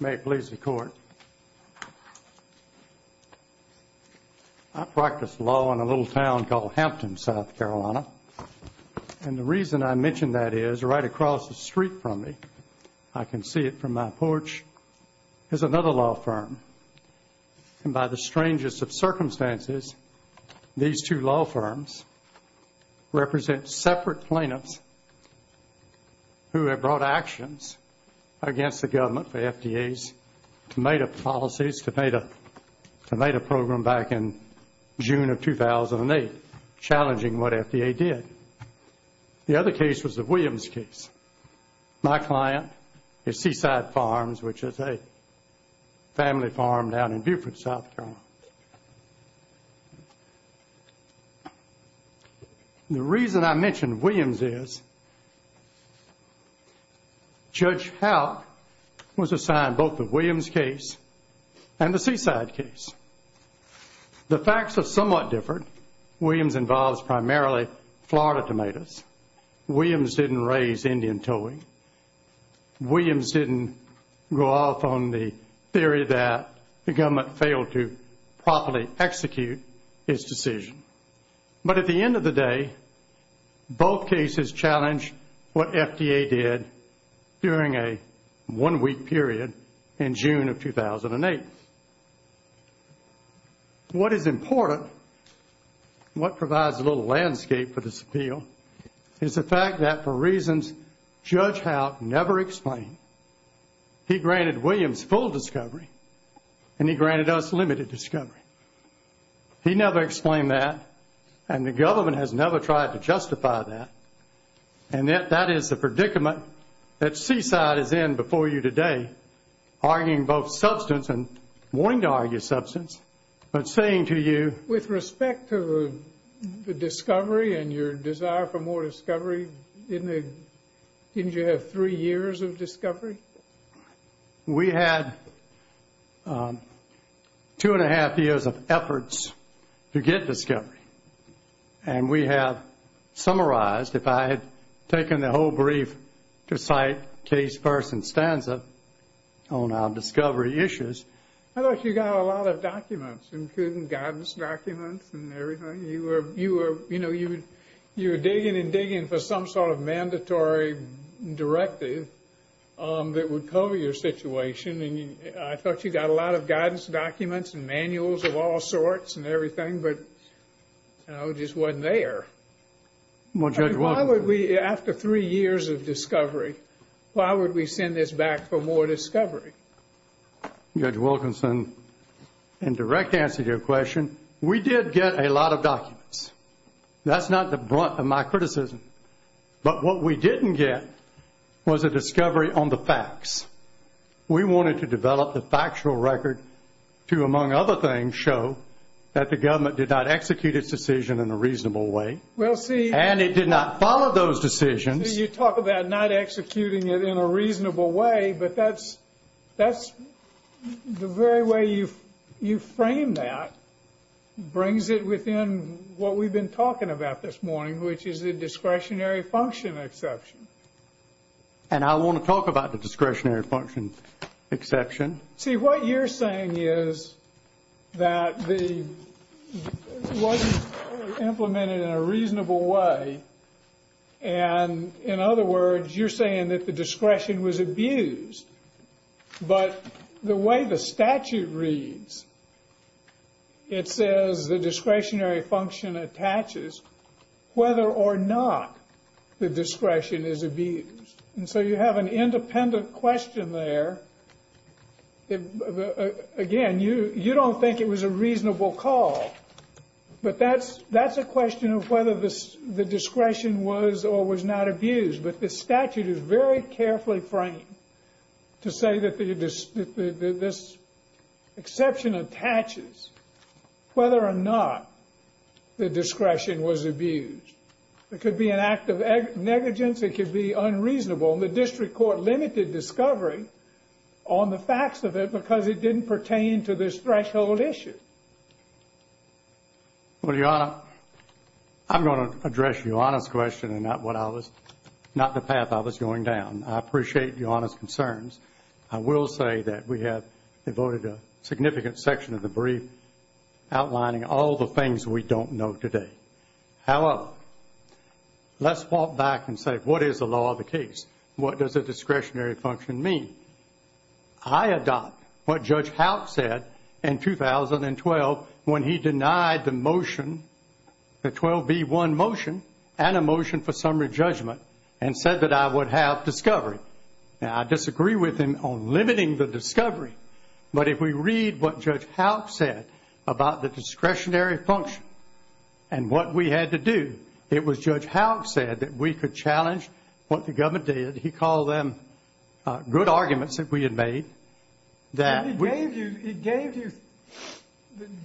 May it please the Court. I practice law in a little town called Hampton, South Carolina, and the reason I mention that is right across the street from me, I can see it from my porch, is another law firm. And by the strangest of circumstances, these two law firms represent separate plaintiffs who have brought actions against the government for FDA's tomato policies, tomato program, back in June of 2008, challenging what FDA did. The other case was the Williams case. My client is Seaside Farms, which is a family farm down in Beaufort, South Carolina. The reason I mention Williams is Judge Howe was assigned both the Williams case and the Seaside case. The facts are somewhat different. Williams involves primarily Florida tomatoes. Williams didn't raise Indian towing. His client failed to properly execute his decision. But at the end of the day, both cases challenged what FDA did during a one-week period in June of 2008. What is important, what provides a little landscape for this appeal, is the fact that for reasons Judge Howe never explained, he granted Williams full discovery and he granted us limited discovery. He never explained that, and the government has never tried to justify that. And that is the predicament that Seaside is in before you today, arguing both substance and wanting to argue substance, but saying to you... With respect to the discovery and your desire for more discovery, didn't you have three years of discovery? We had two-and-a-half years of efforts to get discovery. And we have summarized, if I had taken the whole brief to cite case-first and stanza on our discovery issues... I thought you got a lot of documents, including guidance documents and everything. You were digging and digging for some sort of mandatory directive that would cover your situation, and I thought you got a lot of guidance documents and manuals of all sorts and everything, but it just wasn't there. Why would we, after three years of discovery, why would we send this back for more discovery? Judge Wilkinson, in direct answer to your question, we did get a lot of documents. That's not the brunt of my criticism. But what we didn't get was a discovery on the facts. We wanted to develop the factual record to, among other things, show that the government did not execute its decision in a reasonable way. And it did not follow those decisions. You talk about not executing it in a reasonable way, but that's the very way you frame that brings it within what we've been talking about this morning, which is the discretionary function exception. And I want to talk about the discretionary function exception. See, what you're saying is that it wasn't implemented in a reasonable way, and, in other words, you're saying that the discretion was abused. But the way the statute reads, it says the discretionary function attaches whether or not the discretion is abused. And so you have an independent question there. Again, you don't think it was a reasonable call, but that's a question of whether the discretion was or was not abused. But the statute is very carefully framed to say that this exception attaches whether or not the discretion was abused. It could be an act of negligence. It could be unreasonable. And the district court limited discovery on the facts of it because it didn't pertain to this threshold issue. Well, Your Honor, I'm going to address Your Honor's question and not the path I was going down. I appreciate Your Honor's concerns. I will say that we have devoted a significant section of the brief outlining all the things we don't know today. However, let's walk back and say, what is the law of the case? What does a discretionary function mean? I adopt what Judge Howe said in 2012 when he denied the motion, the 12B1 motion and a motion for summary judgment, and said that I would have discovery. Now, I disagree with him on limiting the discovery, but if we read what Judge Howe said about the discretionary function and what we had to do, it was Judge Howe said that we could challenge what the government did. He called them good arguments that we had made. He gave you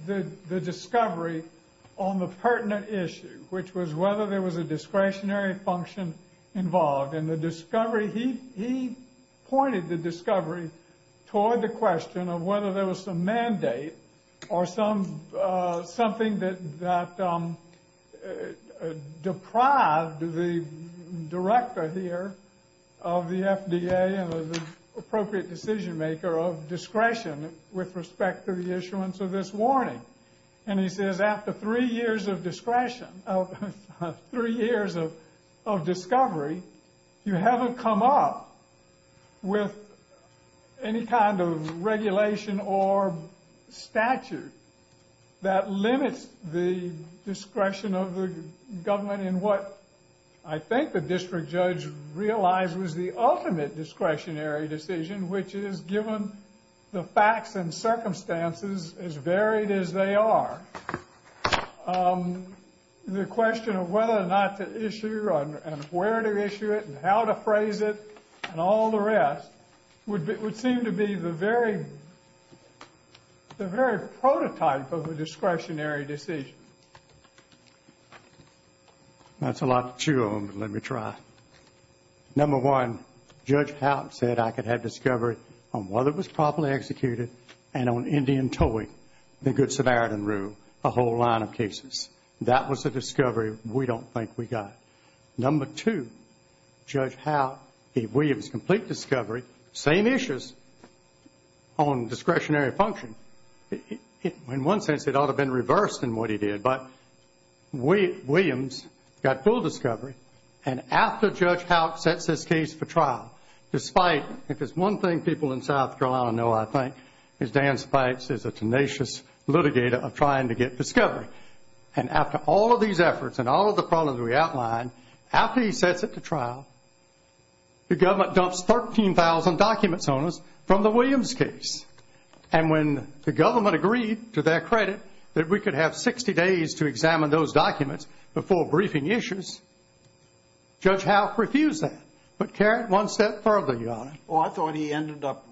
the discovery on the pertinent issue, which was whether there was a discretionary function involved. And the discovery, he pointed the discovery toward the question of whether there was some mandate or something that deprived the director here of the FDA and the appropriate decision maker of discretion with respect to the issuance of this warning. And he says after three years of discovery, you haven't come up with any kind of regulation or statute that limits the discretion of the government in what I think the district judge realized was the ultimate discretionary decision, which is given the facts and circumstances as varied as they are, the question of whether or not to issue and where to issue it and how to phrase it and all the rest would seem to be the very prototype of a discretionary decision. That's a lot to chew on, but let me try. Number one, Judge Howe said I could have discovery on whether it was properly executed and on Indian towing, the Good Samaritan Rule, a whole line of cases. That was a discovery we don't think we got. Number two, Judge Howe gave Williams complete discovery, same issues on discretionary function. In one sense, it ought to have been reversed in what he did, but Williams got full discovery. And after Judge Howe sets this case for trial, if there's one thing people in South Carolina know, I think, is Dan Spites is a tenacious litigator of trying to get discovery. And after all of these efforts and all of the problems we outlined, after he sets it to trial, the government dumps 13,000 documents on us from the Williams case. And when the government agreed to their credit that we could have 60 days to examine those documents before briefing issues, Judge Howe refused that. But, Karen, one step further, Your Honor. Oh, I thought he ended up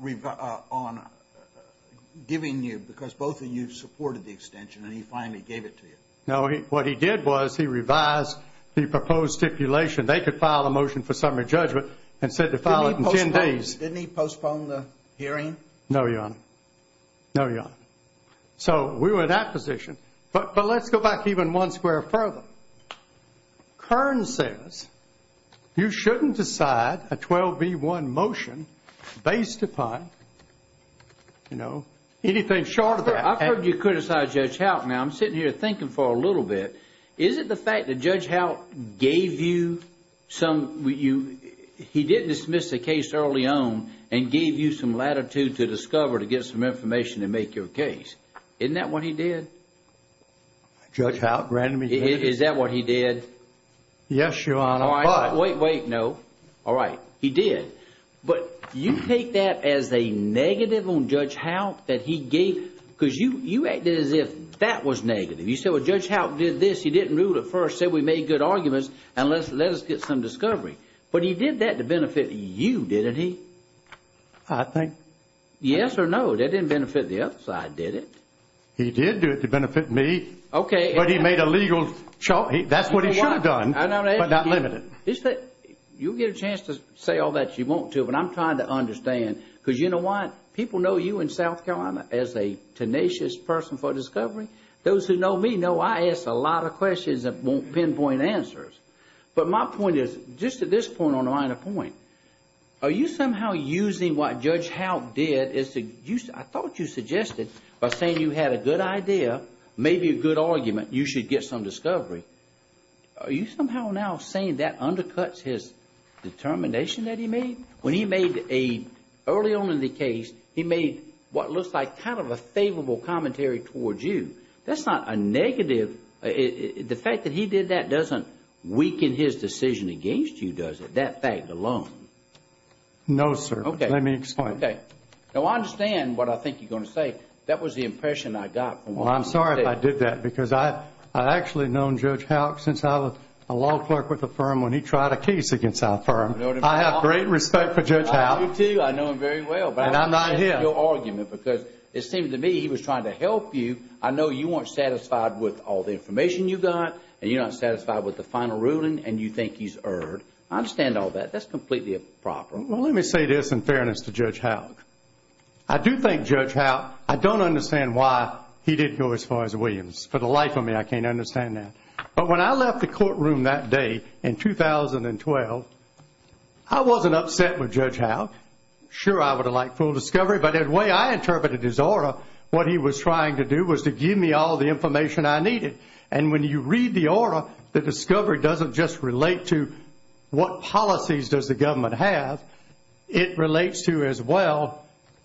giving you, because both of you supported the extension, and he finally gave it to you. No, what he did was he revised the proposed stipulation. They could file a motion for summary judgment and said to file it in ten days. Didn't he postpone the hearing? No, Your Honor. No, Your Honor. So we were in that position. But let's go back even one square further. Kern says you shouldn't decide a 12B1 motion based upon, you know, anything short of that. I've heard you criticize Judge Howe. Now, I'm sitting here thinking for a little bit. Is it the fact that Judge Howe gave you some, he didn't dismiss the case early on and gave you some latitude to discover, to get some information and make your case? Isn't that what he did? Judge Howe? Is that what he did? Yes, Your Honor. Wait, wait, no. All right, he did. But you take that as a negative on Judge Howe that he gave, because you acted as if that was negative. You said, well, Judge Howe did this. He didn't rule it first, said we made good arguments, and let us get some discovery. But he did that to benefit you, didn't he? I think... Yes or no, that didn't benefit the other side, did it? He did do it to benefit me. Okay. But he made a legal... That's what he should have done, but not limited. You'll get a chance to say all that you want to, but I'm trying to understand, because you know what? People know you in South Carolina as a tenacious person for discovery. Those who know me know I ask a lot of questions that won't pinpoint answers. But my point is, just at this point on the line of point, are you somehow using what Judge Howe did, I thought you suggested, by saying you had a good idea, maybe a good argument, you should get some discovery, are you somehow now saying that undercuts his determination that he made? When he made a... Early on in the case, he made what looks like kind of a favorable commentary towards you. That's not a negative... The fact that he did that doesn't weaken his decision against you, does it? That fact alone. No, sir. Let me explain. Okay. Now, I understand what I think you're going to say. That was the impression I got from what you said. Well, I'm sorry if I did that, because I've actually known Judge Howe since I was a law clerk with the firm when he tried a case against our firm. I have great respect for Judge Howe. I do, too. I know him very well. And I'm not him. But I understand your argument, because it seemed to me he was trying to help you. I know you weren't satisfied with all the information you got, and you're not satisfied with the final ruling, and you think he's erred. I understand all that. That's completely improper. Well, let me say this in fairness to Judge Howe. I do think Judge Howe... I don't understand why he didn't go as far as Williams. For the life of me, I can't understand that. But when I left the courtroom that day in 2012, I wasn't upset with Judge Howe. Sure, I would have liked full discovery, but the way I interpreted his aura, what he was trying to do was to give me all the information I needed. And when you read the aura, the discovery doesn't just relate to what policies does the government have. It relates to, as well,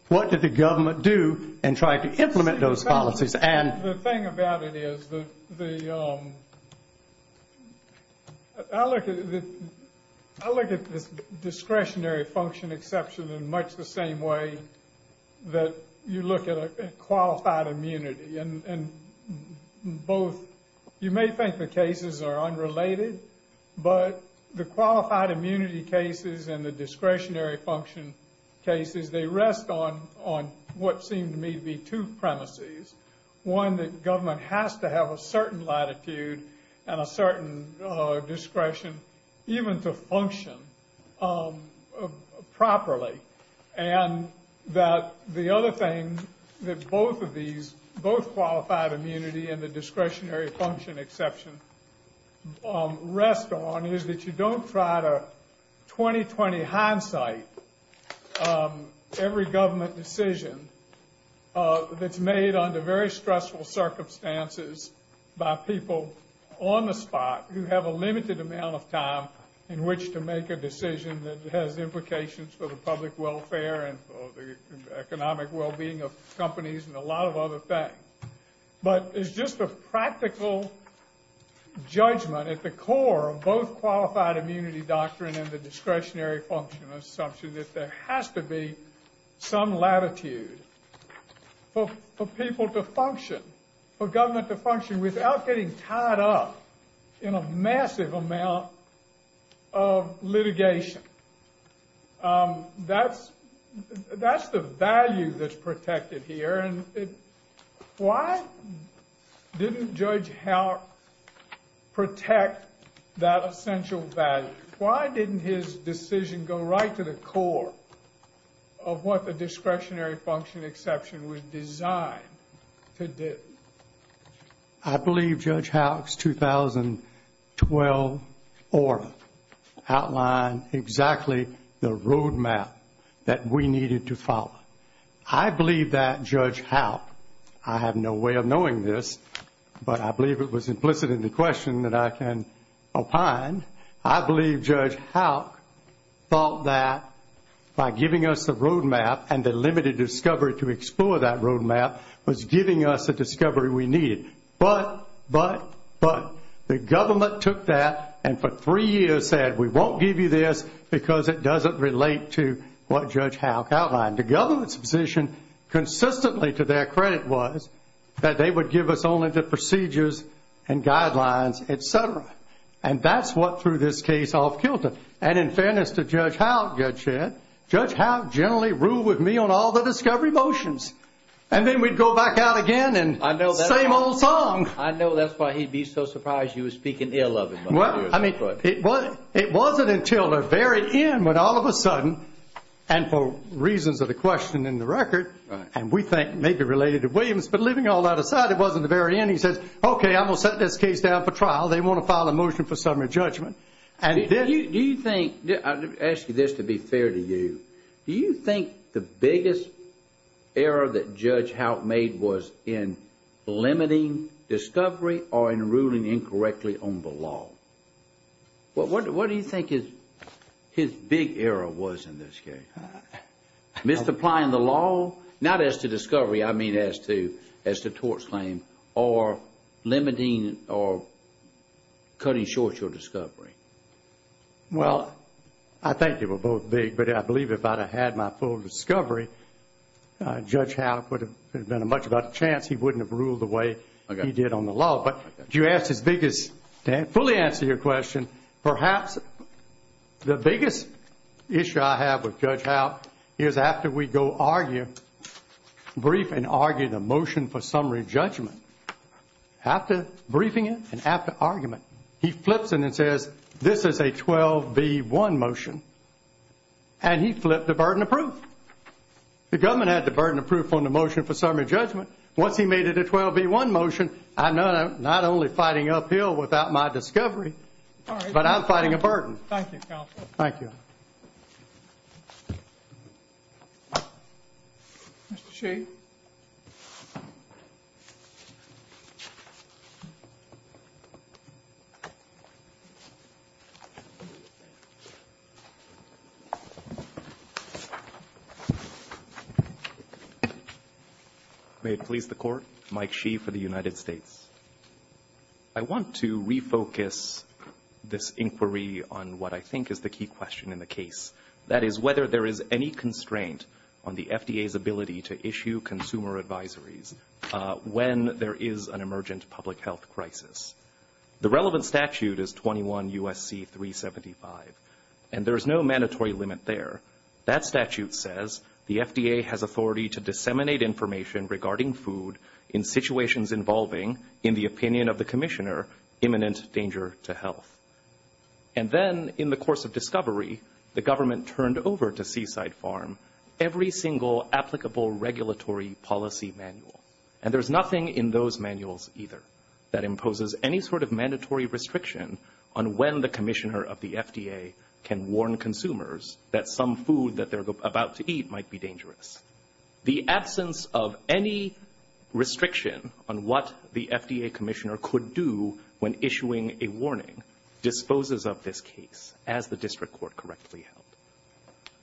what did the government do in trying to implement those policies. The thing about it is the... I look at this discretionary function exception in much the same way that you look at a qualified immunity. And both... The qualified immunity cases and the discretionary function cases, they rest on what seem to me to be two premises. One, that government has to have a certain latitude and a certain discretion even to function properly. And that the other thing that both of these... both qualified immunity and the discretionary function exception rest on is that you don't try to 20-20 hindsight every government decision that's made under very stressful circumstances by people on the spot who have a limited amount of time in which to make a decision that has implications for the public welfare and for the economic well-being of companies and a lot of other things. But it's just a practical judgment at the core of both qualified immunity doctrine and the discretionary function exception that there has to be some latitude for people to function, for government to function without getting tied up in a massive amount of litigation. That's the value that's protected here. Why didn't Judge Howe protect that essential value? Why didn't his decision go right to the core of what the discretionary function exception was designed to do? I believe Judge Howe's 2012 order outlined exactly the roadmap that we needed to follow. I believe that Judge Howe... I have no way of knowing this, but I believe it was implicit in the question that I can opine. I believe Judge Howe thought that by giving us the roadmap and the limited discovery to explore that roadmap was giving us the discovery we needed. But, but, but, the government took that and for three years said, we won't give you this because it doesn't relate to what Judge Howe outlined. The government's position consistently to their credit was that they would give us only the procedures and guidelines, et cetera. And that's what threw this case off kilter. And in fairness to Judge Howe, Judge Shedd, Judge Howe generally ruled with me on all the discovery motions. And then we'd go back out again and same old song. I know that's why he'd be so surprised you were speaking ill of him. Well, I mean, it wasn't until the very end when all of a sudden, and for reasons of the question in the record, and we think may be related to Williams, but leaving all that aside, it wasn't the very end. He says, okay, I'm going to set this case down for trial. They want to file a motion for summary judgment. Do you think... I'll ask you this to be fair to you. Do you think the biggest error that Judge Howe made was in limiting discovery or in ruling incorrectly on the law? What do you think his big error was in this case? Misapplying the law? Not as to discovery. I mean as to tort claim or limiting or cutting short your discovery. Well, I think they were both big. But I believe if I'd have had my full discovery, Judge Howe would have been a much better chance. He wouldn't have ruled the way he did on the law. But to fully answer your question, perhaps the biggest issue I have with Judge Howe is after we go argue, brief and argue the motion for summary judgment, after briefing it and after argument, he flips it and says, this is a 12B1 motion, and he flipped the burden of proof. The government had the burden of proof on the motion for summary judgment. Once he made it a 12B1 motion, I'm not only fighting uphill without my discovery, but I'm fighting a burden. Thank you, Counsel. Thank you. Mr. Sheehan. May it please the Court. Mike Sheehan for the United States. I want to refocus this inquiry on what I think is the key question in the case. That is whether there is any constraint on the FDA's ability to issue consumer advisories when there is an emergent public health crisis. The relevant statute is 21 U.S.C. 375, and there is no mandatory limit there. That statute says the FDA has authority to disseminate information regarding food in situations involving, in the opinion of the Commissioner, imminent danger to health. And then, in the course of discovery, the government turned over to Seaside Farm every single applicable regulatory policy manual. And there's nothing in those manuals either that imposes any sort of mandatory restriction on when the Commissioner of the FDA can warn consumers that some food that they're about to eat might be dangerous. The absence of any restriction on what the FDA Commissioner could do when issuing a warning disposes of this case as the district court correctly held.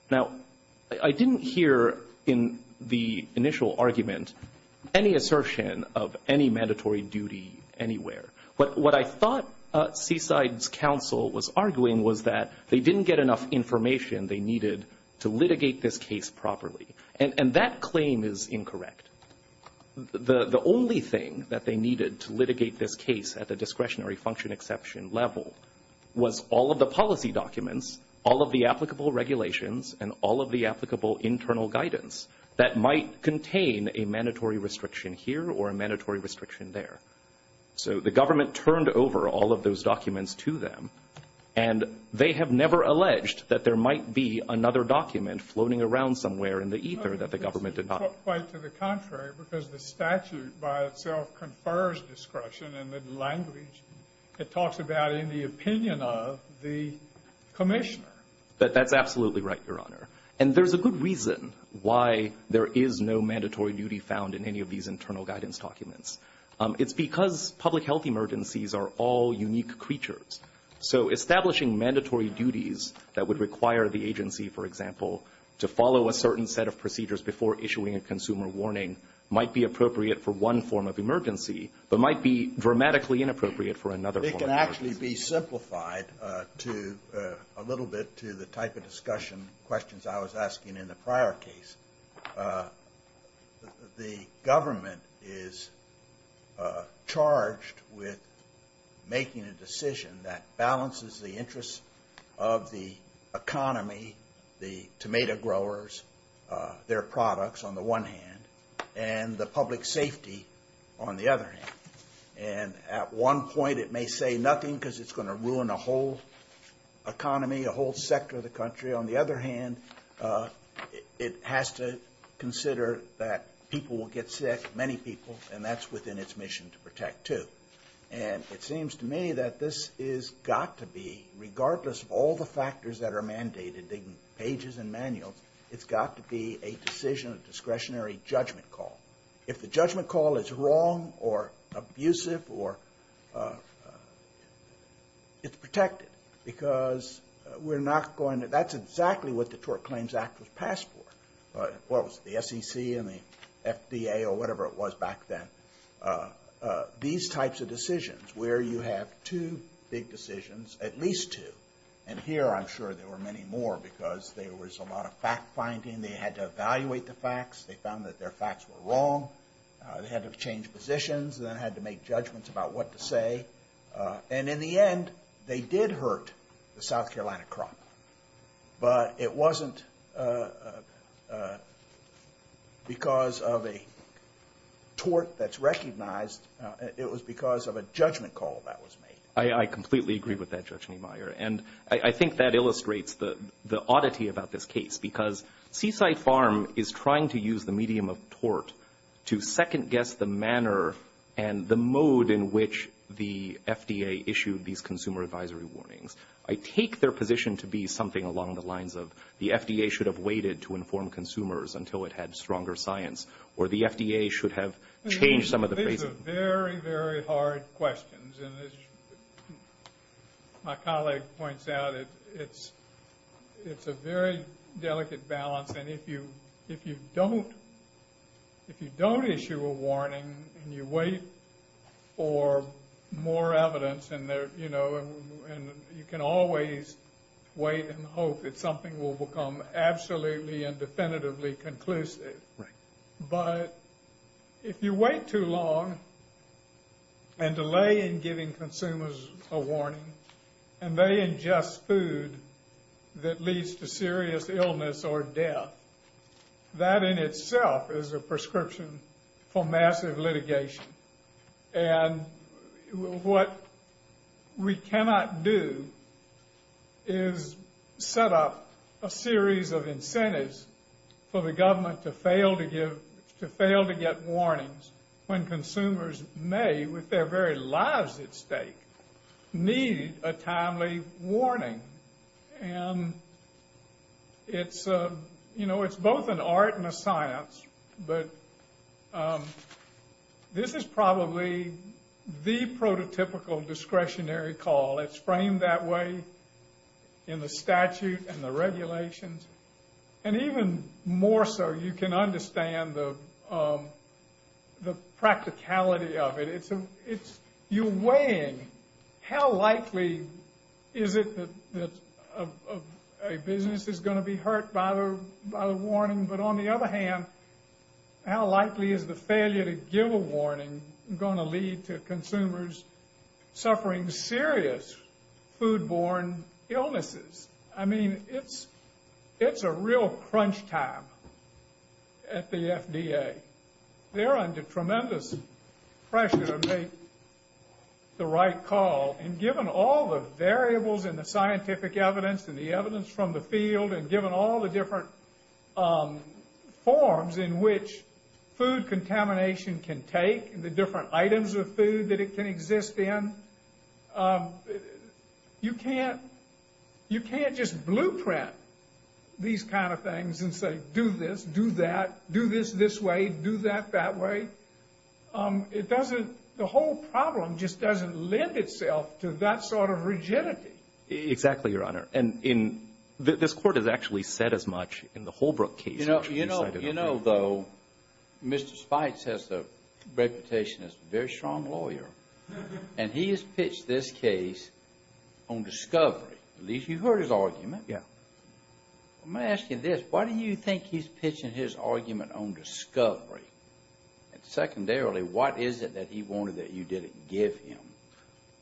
Now, I didn't hear in the initial argument any assertion of any mandatory duty anywhere. But what I thought Seaside's counsel was arguing was that they didn't get enough information they needed to litigate this case properly. And that claim is incorrect. The only thing that they needed to litigate this case at the discretionary function exception level was all of the policy documents, all of the applicable regulations, and all of the applicable internal guidance that might contain a mandatory restriction here or a mandatory restriction there. So the government turned over all of those documents to them, and they have never alleged that there might be another document floating around somewhere in the ether that the government did not. It's not quite to the contrary because the statute by itself confers discretion in the language it talks about in the opinion of the Commissioner. That's absolutely right, Your Honor. And there's a good reason why there is no mandatory duty found in any of these internal guidance documents. It's because public health emergencies are all unique creatures. So establishing mandatory duties that would require the agency, for example, to follow a certain set of procedures before issuing a consumer warning might be appropriate for one form of emergency but might be dramatically inappropriate for another form of emergency. It can actually be simplified a little bit to the type of discussion questions I was asking in the prior case. The government is charged with making a decision that balances the interests of the economy, the tomato growers, their products on the one hand, and the public safety on the other hand. And at one point it may say nothing because it's going to ruin a whole economy, a whole sector of the country. On the other hand, it has to consider that people will get sick, many people, and that's within its mission to protect too. And it seems to me that this has got to be, regardless of all the factors that are mandated in pages and manuals, it's got to be a decision, a discretionary judgment call. If the judgment call is wrong or abusive, it's protected because that's exactly what the Tort Claims Act was passed for. Well, it was the SEC and the FDA or whatever it was back then. These types of decisions where you have two big decisions, at least two, and here I'm sure there were many more because there was a lot of fact-finding. They had to evaluate the facts. They found that their facts were wrong. They had to change positions and then had to make judgments about what to say. And in the end, they did hurt the South Carolina crop. But it wasn't because of a tort that's recognized. It was because of a judgment call that was made. I completely agree with that, Judge Niemeyer, and I think that illustrates the oddity about this case because Seaside Farm is trying to use the medium of tort to second-guess the manner and the mode in which the FDA issued these consumer advisory warnings. I take their position to be something along the lines of the FDA should have waited to inform consumers until it had stronger science, or the FDA should have changed some of the phrasing. These are very, very hard questions. And as my colleague points out, it's a very delicate balance. And if you don't issue a warning and you wait for more evidence, you can always wait and hope that something will become absolutely and definitively conclusive. But if you wait too long and delay in giving consumers a warning and they ingest food that leads to serious illness or death, that in itself is a prescription for massive litigation. And what we cannot do is set up a series of incentives for the government to fail to get warnings when consumers may, with their very lives at stake, need a timely warning. And it's both an art and a science. But this is probably the prototypical discretionary call. It's framed that way in the statute and the regulations. And even more so, you can understand the practicality of it. You're weighing how likely is it that a business is going to be hurt by the warning. But on the other hand, how likely is the failure to give a warning going to lead to consumers suffering serious foodborne illnesses? I mean, it's a real crunch time at the FDA. They're under tremendous pressure to make the right call. And given all the variables and the scientific evidence and the evidence from the field and given all the different forms in which food contamination can take and the different items of food that it can exist in, you can't just blueprint these kind of things and say, do this, do that, do this this way, do that that way. The whole problem just doesn't lend itself to that sort of rigidity. Exactly, Your Honor. And this Court has actually said as much in the Holbrook case. You know, though, Mr. Spites has a reputation as a very strong lawyer, and he has pitched this case on discovery. At least you heard his argument. Yeah. I'm going to ask you this. Why do you think he's pitching his argument on discovery? And secondarily, what is it that he wanted that you didn't give him?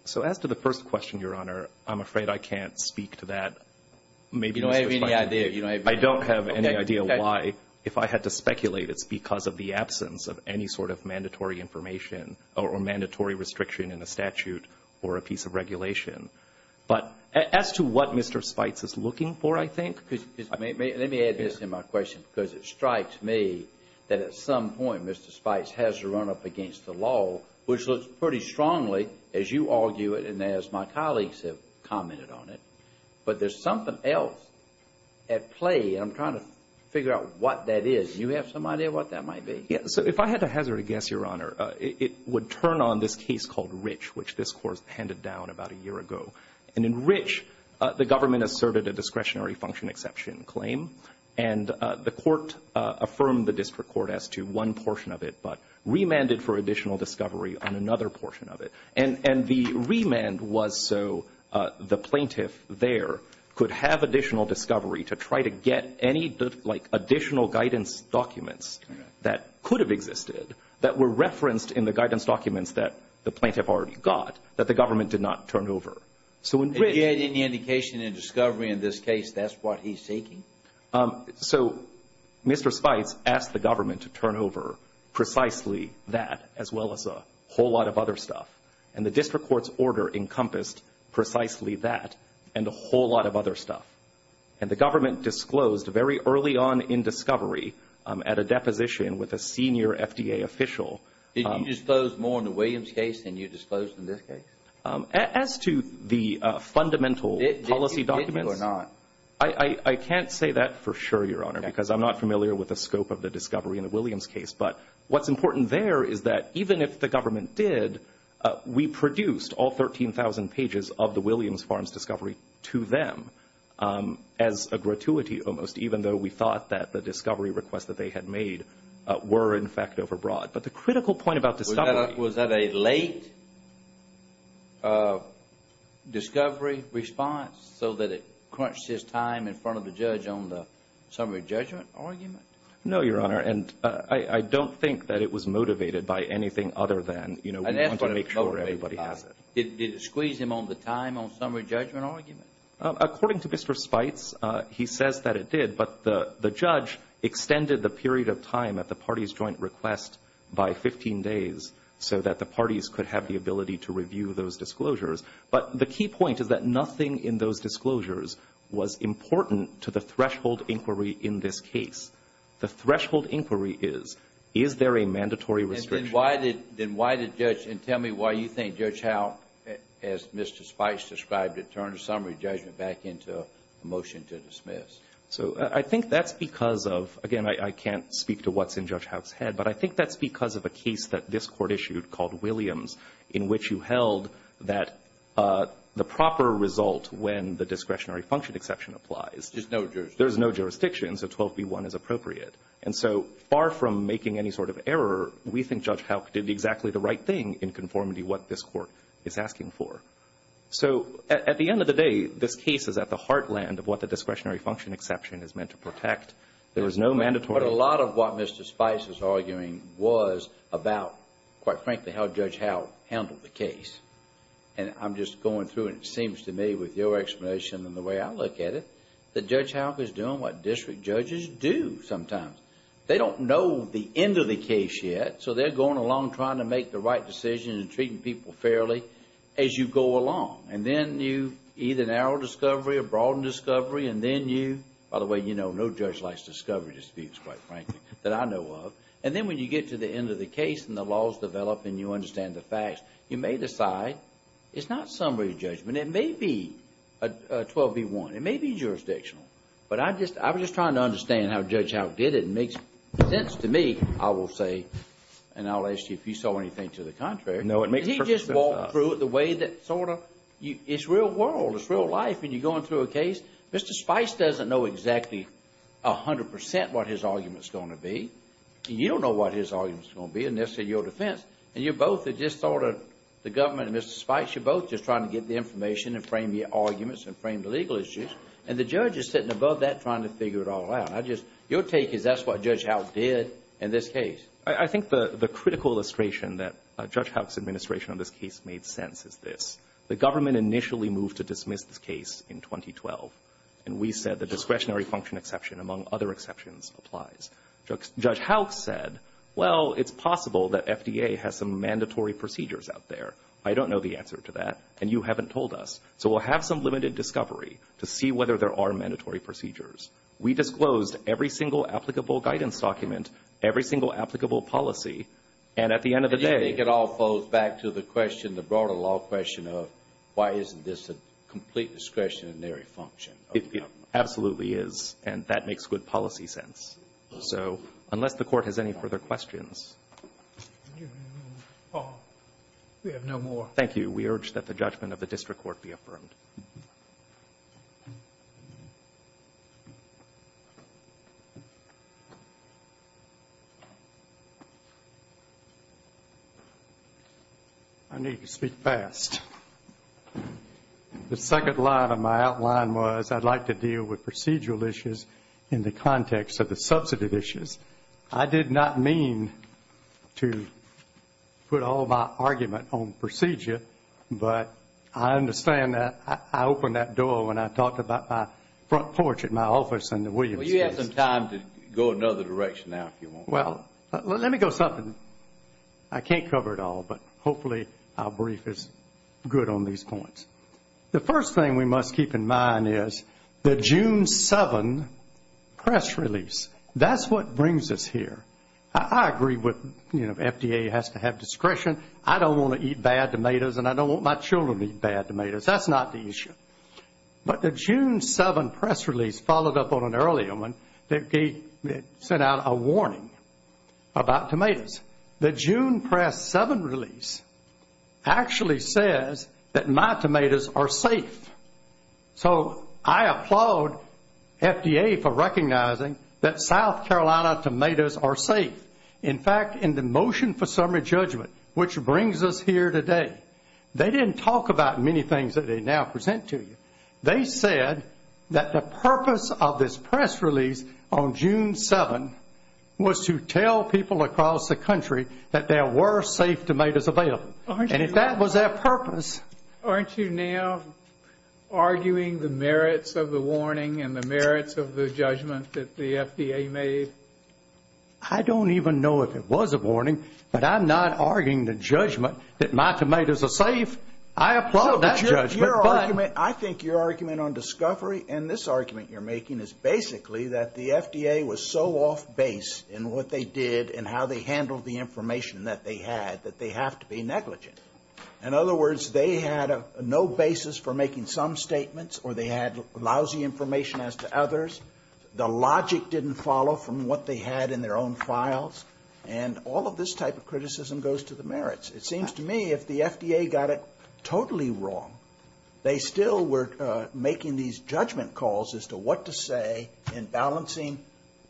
So as to the first question, Your Honor, I'm afraid I can't speak to that. You don't have any idea. I don't have any idea why. If I had to speculate, it's because of the absence of any sort of mandatory information or mandatory restriction in a statute or a piece of regulation. But as to what Mr. Spites is looking for, I think. Let me add this to my question, because it strikes me that at some point Mr. Spites has to run up against the law, which looks pretty strongly, as you argue it and as my colleagues have commented on it. But there's something else at play, and I'm trying to figure out what that is. Do you have some idea what that might be? Yeah. So if I had to hazard a guess, Your Honor, it would turn on this case called Rich, which this Court handed down about a year ago. And in Rich, the government asserted a discretionary function exception claim, and the Court affirmed the district court as to one portion of it, but remanded for additional discovery on another portion of it. And the remand was so the plaintiff there could have additional discovery to try to get any, like, additional guidance documents that could have existed that were referenced in the guidance documents that the plaintiff already got that the government did not turn over. So in Rich ---- Did he add any indication in discovery in this case that's what he's seeking? So Mr. Spice asked the government to turn over precisely that as well as a whole lot of other stuff. And the district court's order encompassed precisely that and a whole lot of other stuff. And the government disclosed very early on in discovery at a deposition with a senior FDA official. Did you disclose more in the Williams case than you disclosed in this case? As to the fundamental policy documents ---- Did you or not? I can't say that for sure, Your Honor, because I'm not familiar with the scope of the discovery in the Williams case. But what's important there is that even if the government did, we produced all 13,000 pages of the Williams farms discovery to them as a gratuity almost, even though we thought that the discovery requests that they had made were, in fact, overbroad. But the critical point about discovery ---- Did it squeeze his time in front of the judge on the summary judgment argument? No, Your Honor. And I don't think that it was motivated by anything other than, you know, we want to make sure everybody has it. Did it squeeze him on the time on summary judgment argument? According to Mr. Spice, he says that it did. But the judge extended the period of time at the parties' joint request by 15 days so that the parties could have the ability to review those disclosures. But the key point is that nothing in those disclosures was important to the threshold inquiry in this case. The threshold inquiry is, is there a mandatory restriction? Then why did Judge ---- And tell me why you think Judge Howe, as Mr. Spice described it, turned the summary judgment back into a motion to dismiss. So I think that's because of ---- Again, I can't speak to what's in Judge Howe's head. But I think that's because of a case that this Court issued called Williams, in which you held that the proper result when the discretionary function exception applies ---- There's no jurisdiction. There's no jurisdiction, so 12b-1 is appropriate. And so far from making any sort of error, we think Judge Howe did exactly the right thing in conformity what this Court is asking for. So at the end of the day, this case is at the heartland of what the discretionary function exception is meant to protect. There is no mandatory ---- But a lot of what Mr. Spice was arguing was about, quite frankly, how Judge Howe handled the case. And I'm just going through, and it seems to me with your explanation and the way I look at it, that Judge Howe is doing what district judges do sometimes. They don't know the end of the case yet, so they're going along trying to make the right decision and treating people fairly as you go along. And then you either narrow discovery or broaden discovery, and then you ---- And then when you get to the end of the case and the laws develop and you understand the facts, you may decide it's not summary judgment. It may be 12b-1. It may be jurisdictional. But I just ---- I was just trying to understand how Judge Howe did it. It makes sense to me, I will say, and I'll ask you if you saw anything to the contrary. No, it makes perfect sense. He just walked through it the way that sort of ---- It's real world. It's real life. And you're going through a case. Mr. Spice doesn't know exactly 100 percent what his argument is going to be, and you don't know what his argument is going to be unless it's in your defense. And you're both just sort of, the government and Mr. Spice, you're both just trying to get the information and frame the arguments and frame the legal issues, and the judge is sitting above that trying to figure it all out. I just ---- Your take is that's what Judge Howe did in this case. I think the critical illustration that Judge Howe's administration on this case made sense is this. The government initially moved to dismiss this case in 2012, and we said the discretionary function exception, among other exceptions, applies. Judge Howe said, well, it's possible that FDA has some mandatory procedures out there. I don't know the answer to that, and you haven't told us. So we'll have some limited discovery to see whether there are mandatory procedures. We disclosed every single applicable guidance document, every single applicable policy, and at the end of the day ---- So why isn't this a complete discretionary function? It absolutely is, and that makes good policy sense. So unless the Court has any further questions ---- We have no more. Thank you. We urge that the judgment of the district court be affirmed. Thank you. I need to speak fast. The second line of my outline was I'd like to deal with procedural issues in the context of the substantive issues. I did not mean to put all my argument on procedure, but I understand that. I opened that door when I talked about my front porch at my office in the Williams case. Well, you have some time to go another direction now if you want. Well, let me go something. I can't cover it all, but hopefully our brief is good on these points. The first thing we must keep in mind is the June 7 press release. That's what brings us here. I agree with, you know, FDA has to have discretion. I don't want to eat bad tomatoes, and I don't want my children to eat bad tomatoes. That's not the issue. But the June 7 press release followed up on an earlier one that sent out a warning about tomatoes. The June press 7 release actually says that my tomatoes are safe. So I applaud FDA for recognizing that South Carolina tomatoes are safe. In fact, in the motion for summary judgment, which brings us here today, they didn't talk about many things that they now present to you. They said that the purpose of this press release on June 7 was to tell people across the country that there were safe tomatoes available, and that was their purpose. Aren't you now arguing the merits of the warning and the merits of the judgment that the FDA made? I don't even know if it was a warning, but I'm not arguing the judgment that my tomatoes are safe. I applaud that judgment. But your argument, I think your argument on discovery and this argument you're making is basically that the FDA was so off base in what they did and how they handled the information that they had that they have to be negligent. In other words, they had no basis for making some statements, or they had lousy information as to others. The logic didn't follow from what they had in their own files. And all of this type of criticism goes to the merits. It seems to me if the FDA got it totally wrong, they still were making these judgment calls as to what to say in balancing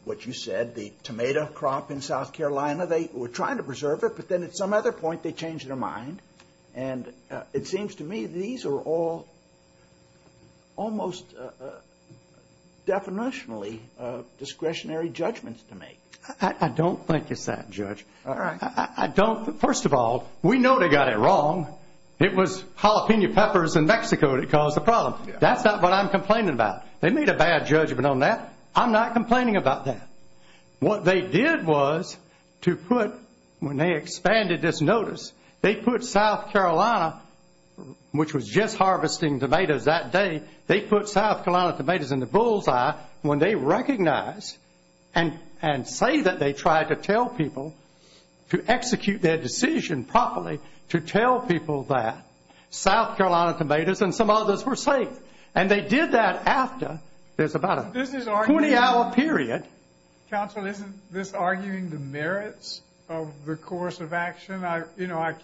what you said, the tomato crop in South Carolina. They were trying to preserve it, but then at some other point they changed their mind. And it seems to me these are all almost definitionally discretionary judgments to make. I don't think it's that, Judge. First of all, we know they got it wrong. It was jalapeno peppers in Mexico that caused the problem. That's not what I'm complaining about. They made a bad judgment on that. I'm not complaining about that. What they did was to put, when they expanded this notice, they put South Carolina, which was just harvesting tomatoes that day, they put South Carolina tomatoes in the bullseye when they recognized and say that they tried to tell people, to execute their decision properly, to tell people that South Carolina tomatoes and some others were safe. And they did that after. There's about a 20-hour period. Counsel, isn't this arguing the merits of the course of action? I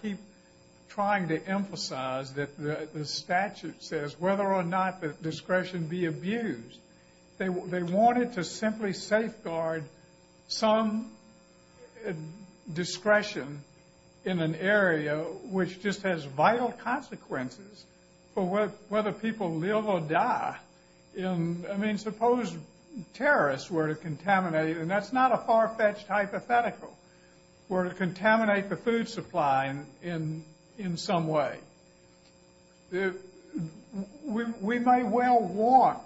keep trying to emphasize that the statute says whether or not the discretion be abused. They wanted to simply safeguard some discretion in an area which just has vital consequences for whether people live or die. I mean, suppose terrorists were to contaminate, and that's not a far-fetched hypothetical, were to contaminate the food supply in some way. We may well want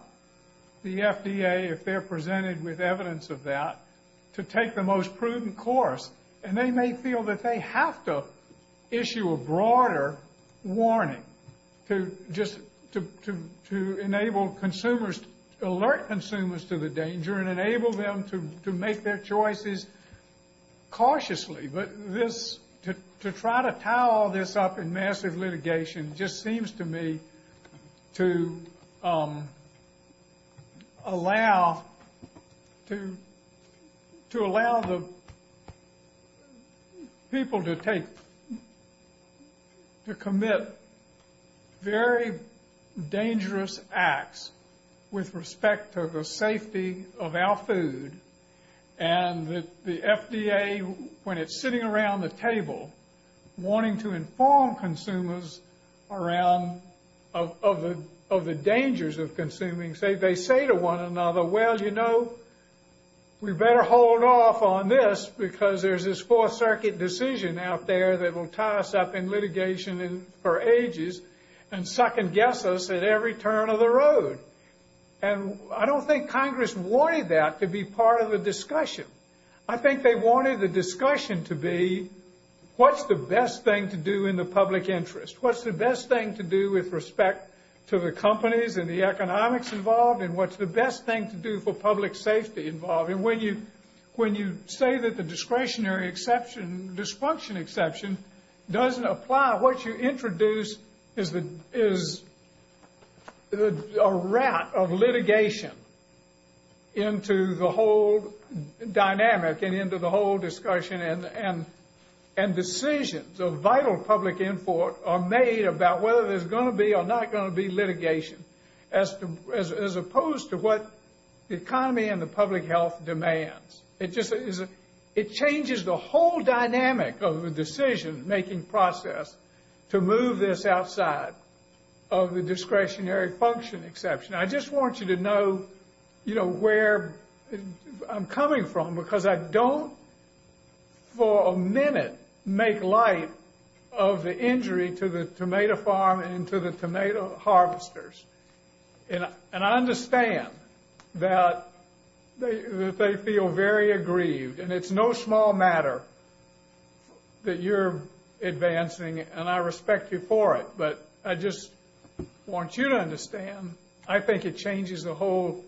the FDA, if they're presented with evidence of that, to take the most prudent course. And they may feel that they have to issue a broader warning to enable consumers, alert consumers to the danger and enable them to make their choices cautiously. But to try to tie all this up in massive litigation just seems to me to allow the people to take, to commit very dangerous acts with respect to the safety of our food. And the FDA, when it's sitting around the table, wanting to inform consumers of the dangers of consuming, they say to one another, well, you know, we better hold off on this because there's this Fourth Circuit decision out there that will tie us up in litigation for ages and second-guess us at every turn of the road. And I don't think Congress wanted that to be part of the discussion. I think they wanted the discussion to be, what's the best thing to do in the public interest? What's the best thing to do with respect to the companies and the economics involved? And what's the best thing to do for public safety involved? And when you say that the discretionary exception, dysfunction exception, doesn't apply, what you introduce is a rat of litigation into the whole dynamic and into the whole discussion and decisions of vital public input are made about whether there's going to be or not going to be litigation as opposed to what the economy and the public health demands. It changes the whole dynamic of the decision-making process to move this outside of the discretionary function exception. I just want you to know where I'm coming from because I don't, for a minute, make light of the injury to the tomato farm and to the tomato harvesters. And I understand that they feel very aggrieved. And it's no small matter that you're advancing, and I respect you for it. But I just want you to understand, I think it changes the whole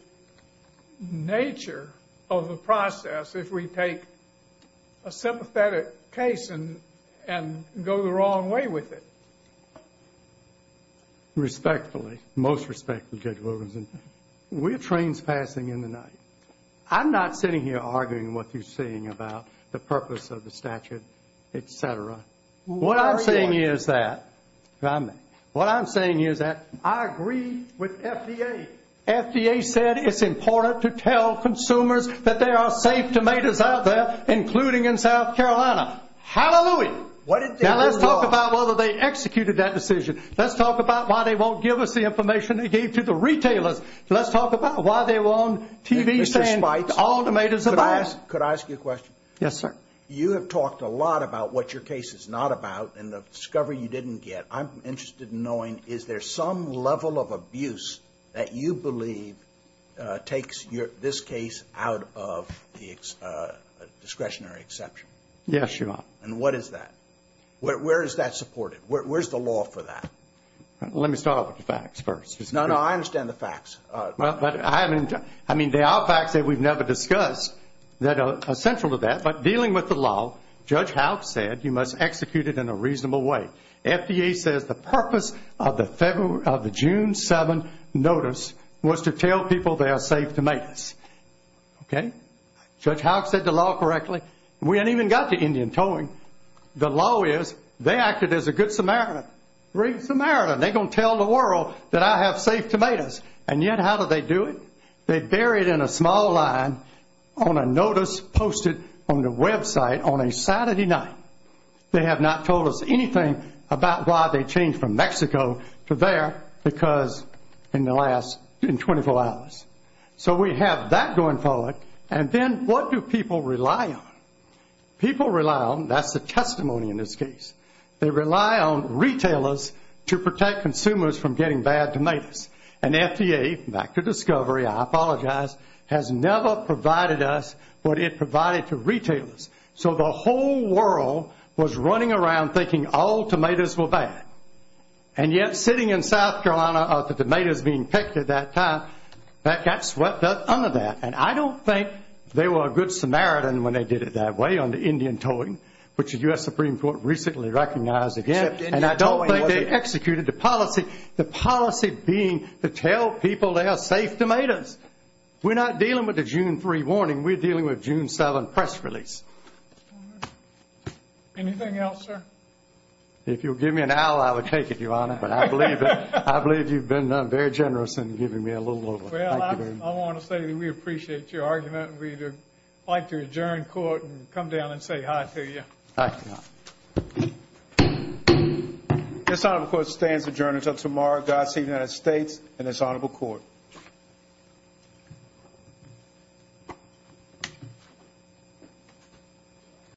nature of the process if we take a sympathetic case and go the wrong way with it. Respectfully, most respectfully, Judge Wilkinson, we're trains passing in the night. I'm not sitting here arguing what you're saying about the purpose of the statute, et cetera. What I'm saying is that I agree with FDA. FDA said it's important to tell consumers that there are safe tomatoes out there, including in South Carolina. Hallelujah! Now let's talk about whether they executed that decision. Let's talk about why they won't give us the information they gave to the retailers. Let's talk about why they won't TV stand all tomatoes at once. Could I ask you a question? Yes, sir. You have talked a lot about what your case is not about and the discovery you didn't get. I'm interested in knowing, is there some level of abuse that you believe takes this case out of the discretionary exception? Yes, Your Honor. And what is that? Where is that supported? Where's the law for that? Let me start with the facts first. No, no, I understand the facts. I mean, there are facts that we've never discussed that are central to that. But dealing with the law, Judge Houck said you must execute it in a reasonable way. FDA says the purpose of the June 7th notice was to tell people they are safe tomatoes. Okay? Judge Houck said the law correctly. We haven't even got to Indian towing. The law is they acted as a good Samaritan. Great Samaritan. They're going to tell the world that I have safe tomatoes. And yet how do they do it? They bury it in a small line on a notice posted on the website on a Saturday night. They have not told us anything about why they changed from Mexico to there because in the last 24 hours. So we have that going forward. And then what do people rely on? People rely on, that's the testimony in this case, they rely on retailers to protect consumers from getting bad tomatoes. And FDA, back to discovery, I apologize, has never provided us what it provided to retailers. So the whole world was running around thinking all tomatoes were bad. And yet sitting in South Carolina, the tomatoes being picked at that time, that got swept under that. And I don't think they were a good Samaritan when they did it that way on the Indian towing, which the U.S. Supreme Court recently recognized again. And I don't think they executed the policy, the policy being to tell people they are safe tomatoes. We're not dealing with the June 3 warning. We're dealing with June 7 press release. Anything else, sir? If you'll give me an hour, I would take it, Your Honor. But I believe you've been very generous in giving me a little over. Well, I want to say that we appreciate your argument. We'd like to adjourn court and come down and say hi to you. Hi. This time, of course, stands adjourned until tomorrow. God save the United States and this honorable court.